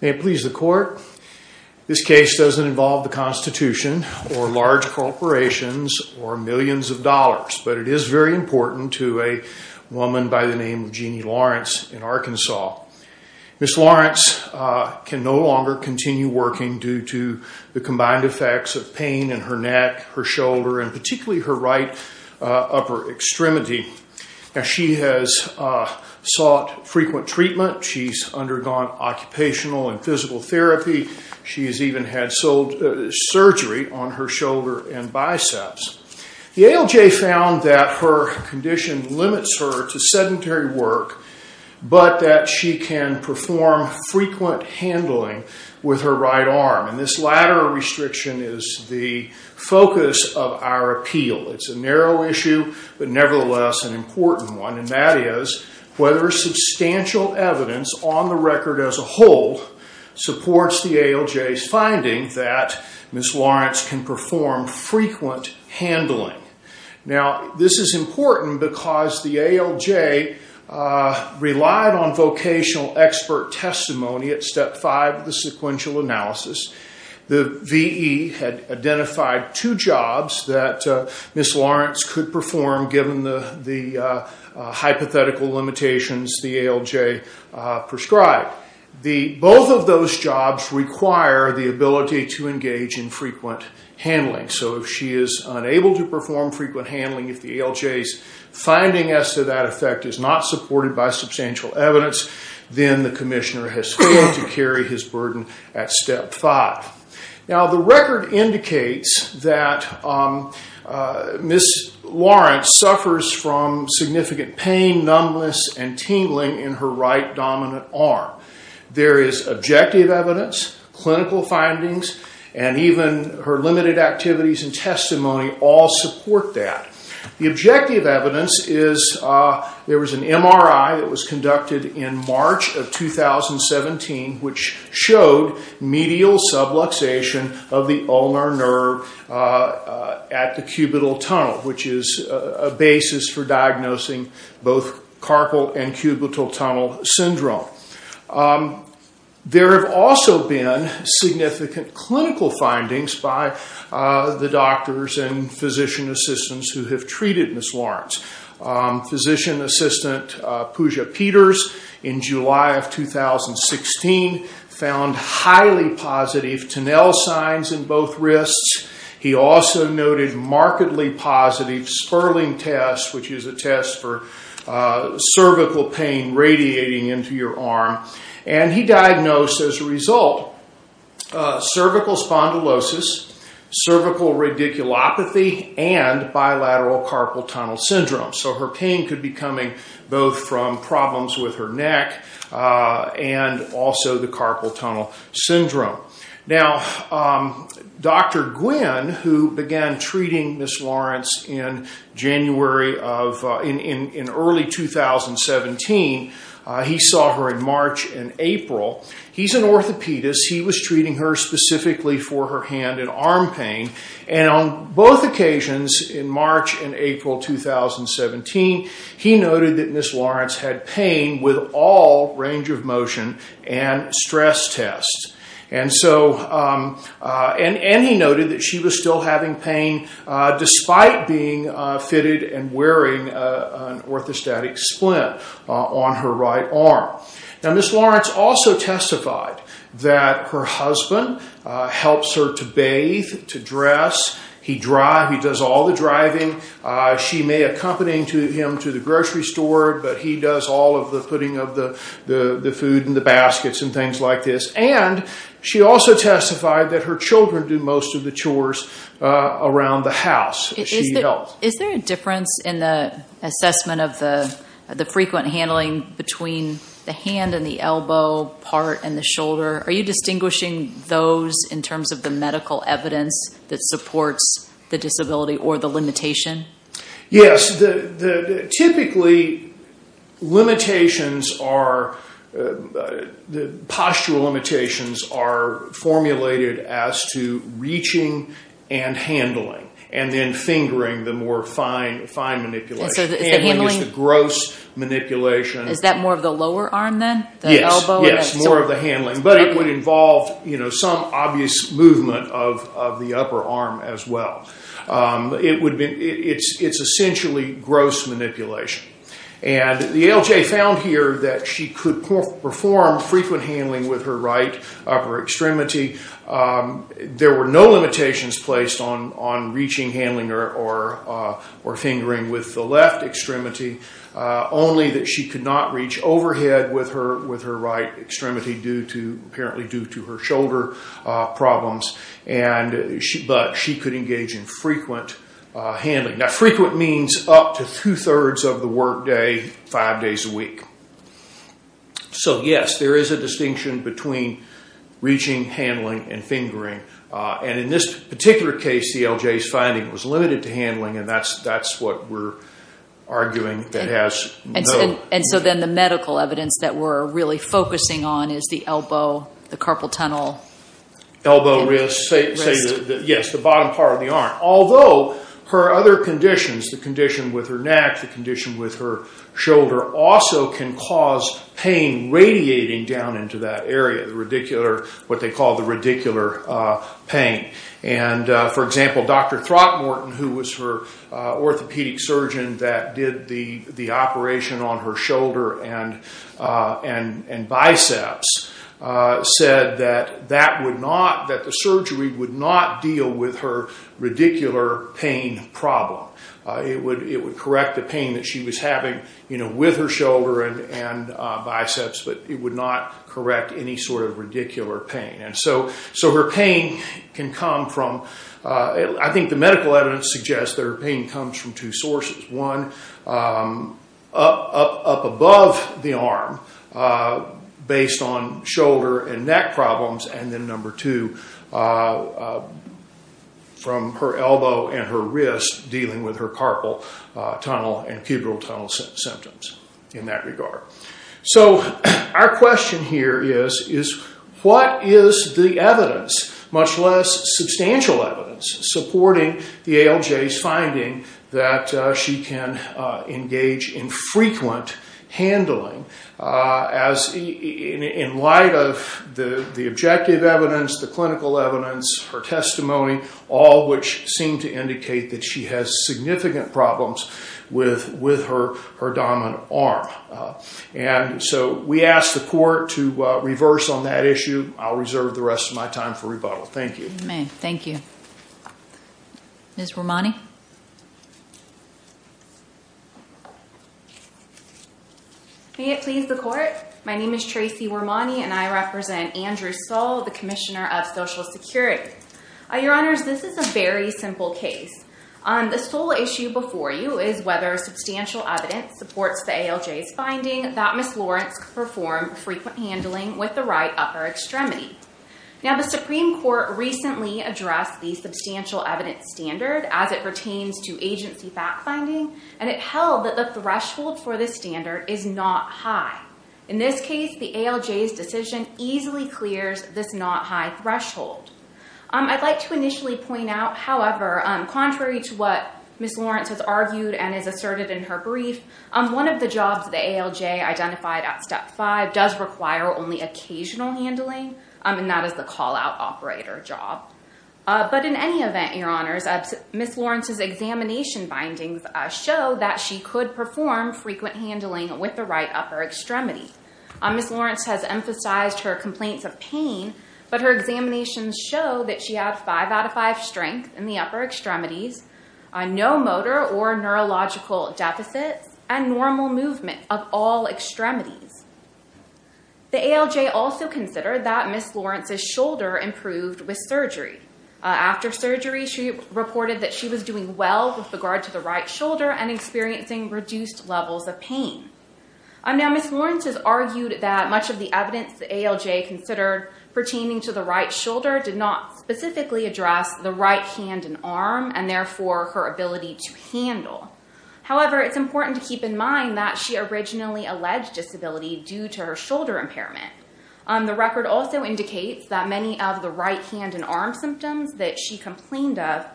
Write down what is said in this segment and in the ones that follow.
May it please the court, this case doesn't involve the Constitution or large corporations or millions of dollars, but it is very important to a woman by the name of Jeanie Lawrence in Arkansas. Ms. Lawrence can no longer continue working due to the combined effects of pain in her neck, her shoulder, and particularly her right upper extremity. She has sought frequent treatment, she's undergone occupational and physical therapy, she's even had surgery on her shoulder and biceps. The ALJ found that her condition limits her to sedentary work, but that she can perform frequent handling with her right arm. This latter restriction is the focus of our appeal. It's a narrow issue, but nevertheless an important one, and that is whether substantial evidence on the record as a whole supports the ALJ's finding that Ms. Lawrence can perform frequent handling. This is important because the ALJ relied on vocational expert testimony at step five of sequential analysis. The VE had identified two jobs that Ms. Lawrence could perform given the hypothetical limitations the ALJ prescribed. Both of those jobs require the ability to engage in frequent handling, so if she is unable to perform frequent handling, if the ALJ's finding as to that effect is not supported by substantial evidence, then the commissioner has failed to carry his burden at step five. Now, the record indicates that Ms. Lawrence suffers from significant pain, numbness, and tingling in her right dominant arm. There is objective evidence, clinical findings, and even her limited activities and testimony all support that. The objective evidence is there was an MRI that was conducted in March of 2017, which showed medial subluxation of the ulnar nerve at the cubital tunnel, which is a basis for diagnosing both carpal and cubital tunnel syndrome. There have also been significant clinical findings by the doctors and physician assistants who have treated Ms. Lawrence. Physician assistant Pooja Peters, in July of 2016, found highly positive tunnel signs in both wrists. He also noted markedly positive spurling tests, which is a test for cervical pain radiating into your arm, and he diagnosed as a result cervical spondylosis, cervical radiculopathy, and bilateral carpal tunnel syndrome. So her pain could be coming both from problems with her neck and also the carpal tunnel syndrome. Now, Dr. Gwynn, who began treating Ms. Lawrence in early 2017, he saw her in March and April. He's an orthopedist. He was treating her specifically for her hand and arm pain, and on both occasions, in March and April 2017, he noted that Ms. Lawrence had pain with all range of motion and stress tests, and he noted that she was still having pain despite being fitted and wearing an orthostatic splint on her right arm. Now, Ms. Lawrence also testified that her husband helps her to bathe, to dress. He drives. He does all the driving. She may accompany him to the grocery store, but he does all of the putting of the food in the baskets and things like this, and she also testified that her children do most of the chores around the house. Is there a difference in the assessment of the frequent handling between the hand and the elbow part and the shoulder? Are you distinguishing those in terms of the medical evidence that supports the disability or the limitation? Yes. Typically, the postural limitations are formulated as to reaching and handling, and then fingering the more fine manipulation. Handling is the gross manipulation. Is that more of the lower arm then, the elbow? Yes, more of the handling, but it would involve some obvious movement of the upper arm as well. It's essentially gross manipulation. The ALJ found here that she could perform frequent handling with her right upper extremity. There were no limitations placed on reaching, handling, or fingering with the left extremity, only that she could not reach overhead with her right extremity, apparently due to her frequent handling. Frequent means up to two-thirds of the work day, five days a week. Yes, there is a distinction between reaching, handling, and fingering. In this particular case, the ALJ's finding was limited to handling, and that's what we're arguing that has no... Then the medical evidence that we're really focusing on is the elbow, the carpal tunnel. Elbow wrist. Yes, the bottom part of the arm. Although, her other conditions, the condition with her neck, the condition with her shoulder, also can cause pain radiating down into that area, what they call the radicular pain. For example, Dr. Throtmorton, who was her orthopedic surgeon that did the operation on her shoulder and biceps, said that the surgery would not deal with her radicular pain problem. It would correct the pain that she was having with her shoulder and biceps, but it would not correct any sort of radicular pain. Her pain can come from... I think the medical evidence suggests that her pain comes from two sources. One, up above the arm based on shoulder and neck problems, and then number two, from her elbow and her wrist dealing with her carpal tunnel and cubital tunnel symptoms in that regard. Our question here is, what is the evidence, much less substantial evidence, supporting the ALJ's finding that she can engage in frequent handling in light of the objective evidence, the clinical evidence, her testimony, all which seem to indicate that she has significant problems with her dominant arm. We ask the court to reverse on that issue. I'll reserve the rest of my time for rebuttal. Thank you. You may. Thank you. Ms. Romani? May it please the court? My name is Tracy Romani, and I represent Andrew Soll, the Commissioner of Social Security. Your Honors, this is a very simple case. The sole issue before you is whether substantial evidence supports the ALJ's finding that Ms. Lawrence could perform frequent handling with the right upper extremity. Now, the Supreme Court recently addressed the substantial evidence standard as it pertains to agency fact-finding, and it held that the threshold for this standard is not high. In this case, the ALJ's decision easily clears this not-high threshold. I'd like to initially point out, however, contrary to what Ms. Lawrence has argued and has asserted in her brief, one of the jobs the ALJ identified at Step 5 does require only occasional handling. And that is the call-out operator job. But in any event, Your Honors, Ms. Lawrence's examination findings show that she could perform frequent handling with the right upper extremity. Ms. Lawrence has emphasized her complaints of pain, but her examinations show that she had 5 out of 5 strength in the upper extremities, no motor or neurological deficits, and normal movement of all extremities. The ALJ also considered that Ms. Lawrence's shoulder improved with surgery. After surgery, she reported that she was doing well with regard to the right shoulder and experiencing reduced levels of pain. Now, Ms. Lawrence has argued that much of the evidence the ALJ considered pertaining to the right shoulder did not specifically address the right hand and arm, and therefore her ability to handle. However, it's important to keep in mind that she originally alleged disability due to her shoulder impairment. The record also indicates that many of the right hand and arm symptoms that she complained of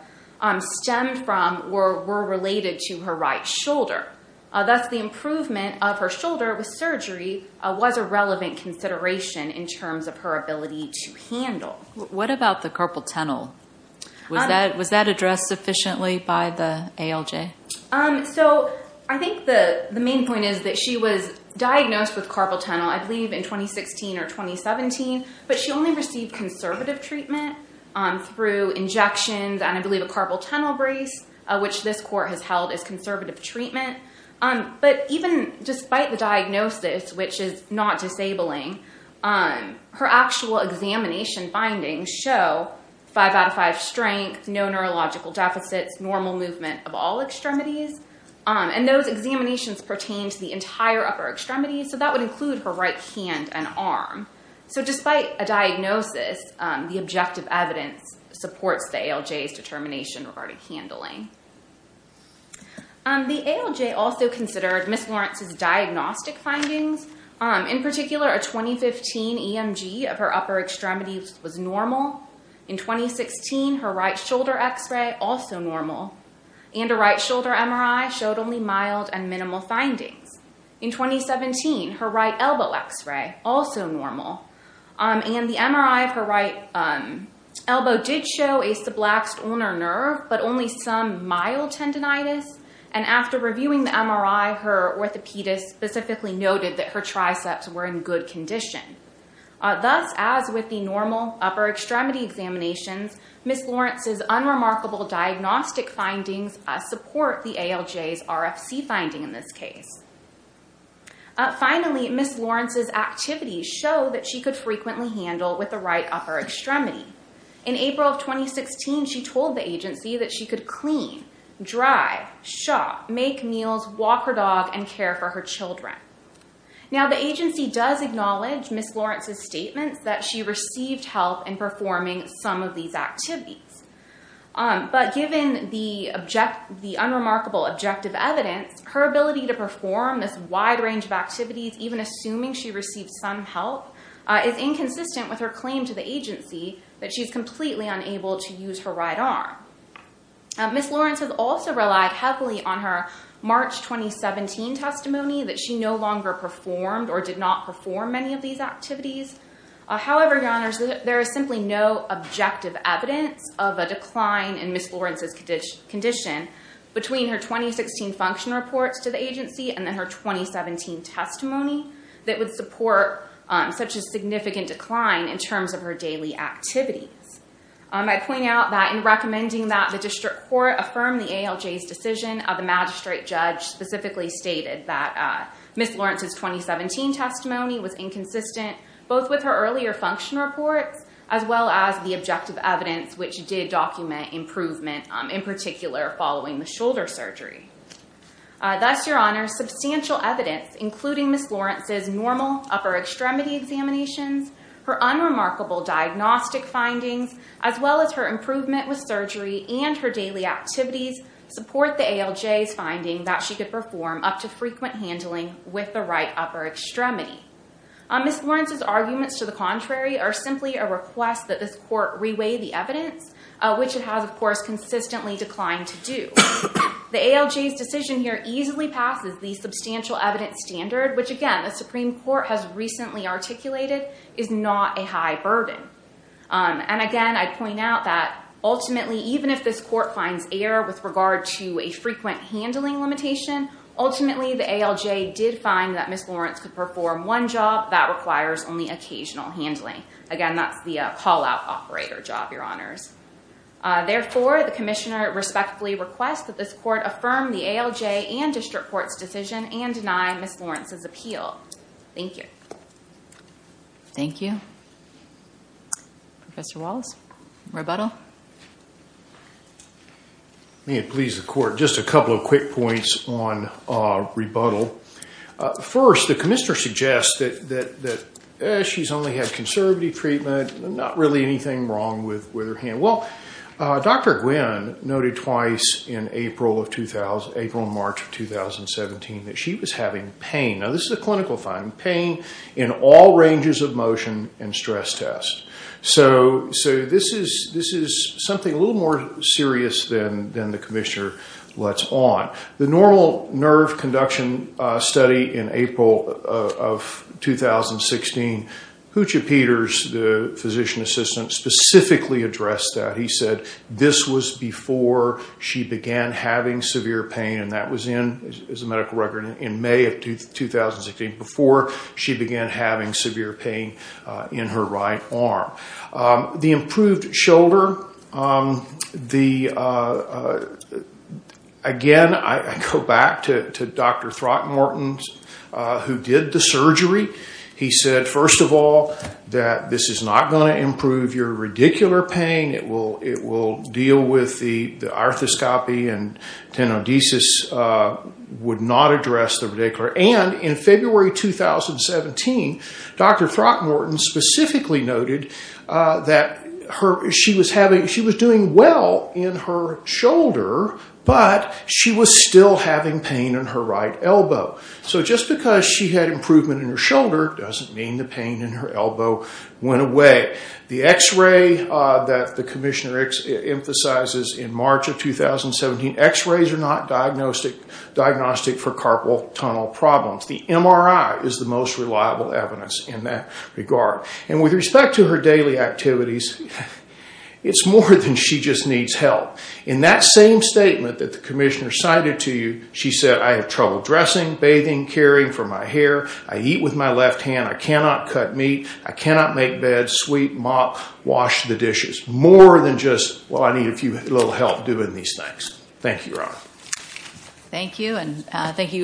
stemmed from or were related to her right shoulder. Thus, the improvement of her shoulder with surgery was a relevant consideration in terms of her ability to handle. What about the carpal tunnel? Was that addressed sufficiently by the ALJ? So, I think the main point is that she was diagnosed with carpal tunnel I believe in 2016 or 2017, but she only received conservative treatment through injections and I believe a carpal tunnel brace, which this court has held as conservative treatment. But even despite the diagnosis, which is not disabling, her actual examination findings show 5 out of 5 strength, no neurological deficits, normal movement of all extremities. And those examinations pertain to the entire upper extremity, so that would include her right hand and arm. So, despite a diagnosis, the objective evidence supports the ALJ's determination regarding handling. The ALJ also considered Ms. Lawrence's diagnostic findings. In particular, a 2015 EMG of her upper extremities was normal. In 2016, her right shoulder x-ray, also normal. And a right shoulder MRI showed only mild and minimal findings. In 2017, her right elbow x-ray, also normal. And the MRI of her right elbow did show a sublaxed ulnar nerve, but only some mild tendonitis. And after reviewing the MRI, her orthopedist specifically noted that her triceps were in good condition. Thus, as with the normal upper extremity examinations, Ms. Lawrence's unremarkable diagnostic findings support the ALJ's RFC finding in this case. Finally, Ms. Lawrence's activities show that she could frequently handle with the right upper extremity. In April of 2016, she told the agency that she could clean, drive, shop, make meals, walk her dog, and care for her children. Now, the agency does acknowledge Ms. Lawrence's statements that she received help in performing some of these activities. But given the unremarkable objective evidence, her ability to perform this wide range of activities, even assuming she received some help, is inconsistent with her claim to the agency that she's completely unable to use her right arm. Ms. Lawrence has also relied heavily on her March 2017 testimony that she no longer performed or did not perform many of these activities. However, Your Honors, there is simply no objective evidence of a decline in Ms. Lawrence's condition between her 2016 function reports to the agency and then her 2017 testimony that would support such a significant decline in terms of her daily activities. I'd point out that in recommending that the district court affirm the ALJ's decision, the magistrate judge specifically stated that Ms. Lawrence's 2017 testimony was inconsistent, both with her earlier function reports, as well as the objective evidence, which did document improvement, in particular, following the shoulder surgery. Thus, Your Honors, substantial evidence, including Ms. Lawrence's normal upper extremity examinations, her unremarkable diagnostic findings, as well as her improvement with surgery and her daily activities, support the ALJ's finding that she could perform up to frequent handling with the right upper extremity. Ms. Lawrence's arguments to the contrary are simply a request that this court reweigh the evidence, which it has, of course, consistently declined to do. The ALJ's decision here easily passes the substantial evidence standard, which, again, the Supreme Court has recently articulated is not a high burden. And again, I'd point out that ultimately, even if this court finds error with regard to a frequent handling limitation, ultimately, the ALJ did find that Ms. Lawrence could perform one job that requires only occasional handling. Again, that's the call-out operator job, Your Honors. Therefore, the commissioner respectfully requests that this court affirm the ALJ and district court's decision and deny Ms. Lawrence's appeal. Thank you. Thank you. Professor Wallace, rebuttal? May it please the court, just a couple of quick points on rebuttal. First, the commissioner suggests that she's only had conservative treatment, not really anything wrong with her hand. Well, Dr. Gwynne noted twice in April and March of 2017 that she was having pain. Now, this is a clinical finding, pain in all ranges of motion and stress test. So this is something a little more serious than the commissioner lets on. The normal nerve conduction study in April of 2016, Hootje Peters, the physician assistant, specifically addressed that. He said this was before she began having severe pain, and that was in, as a medical record, in May of 2016, before she began having severe pain in her right arm. The improved shoulder, again, I go back to Dr. Throckmorton, who did the surgery. He said, first of all, that this is not going to improve your radicular pain. It will deal with the arthroscopy and tenodesis would not address the radicular. And in February 2017, Dr. Throckmorton specifically noted that she was doing well in her shoulder, but she was still having pain in her right elbow. So just because she had improvement in her shoulder doesn't mean the pain in her elbow went away. The x-ray that the commissioner emphasizes in March of 2017, x-rays are not diagnostic for carpal tunnel problems. The MRI is the most reliable evidence in that regard. And with respect to her daily activities, it's more than she just needs help. In that same statement that the commissioner cited to you, she said, I have trouble dressing, bathing, caring for my hair, I eat with my left hand, I cannot cut meat, I cannot make beds, sweep, mop, wash the dishes. More than just, well, I need a little help doing these things. Thank you, Your Honor. Thank you.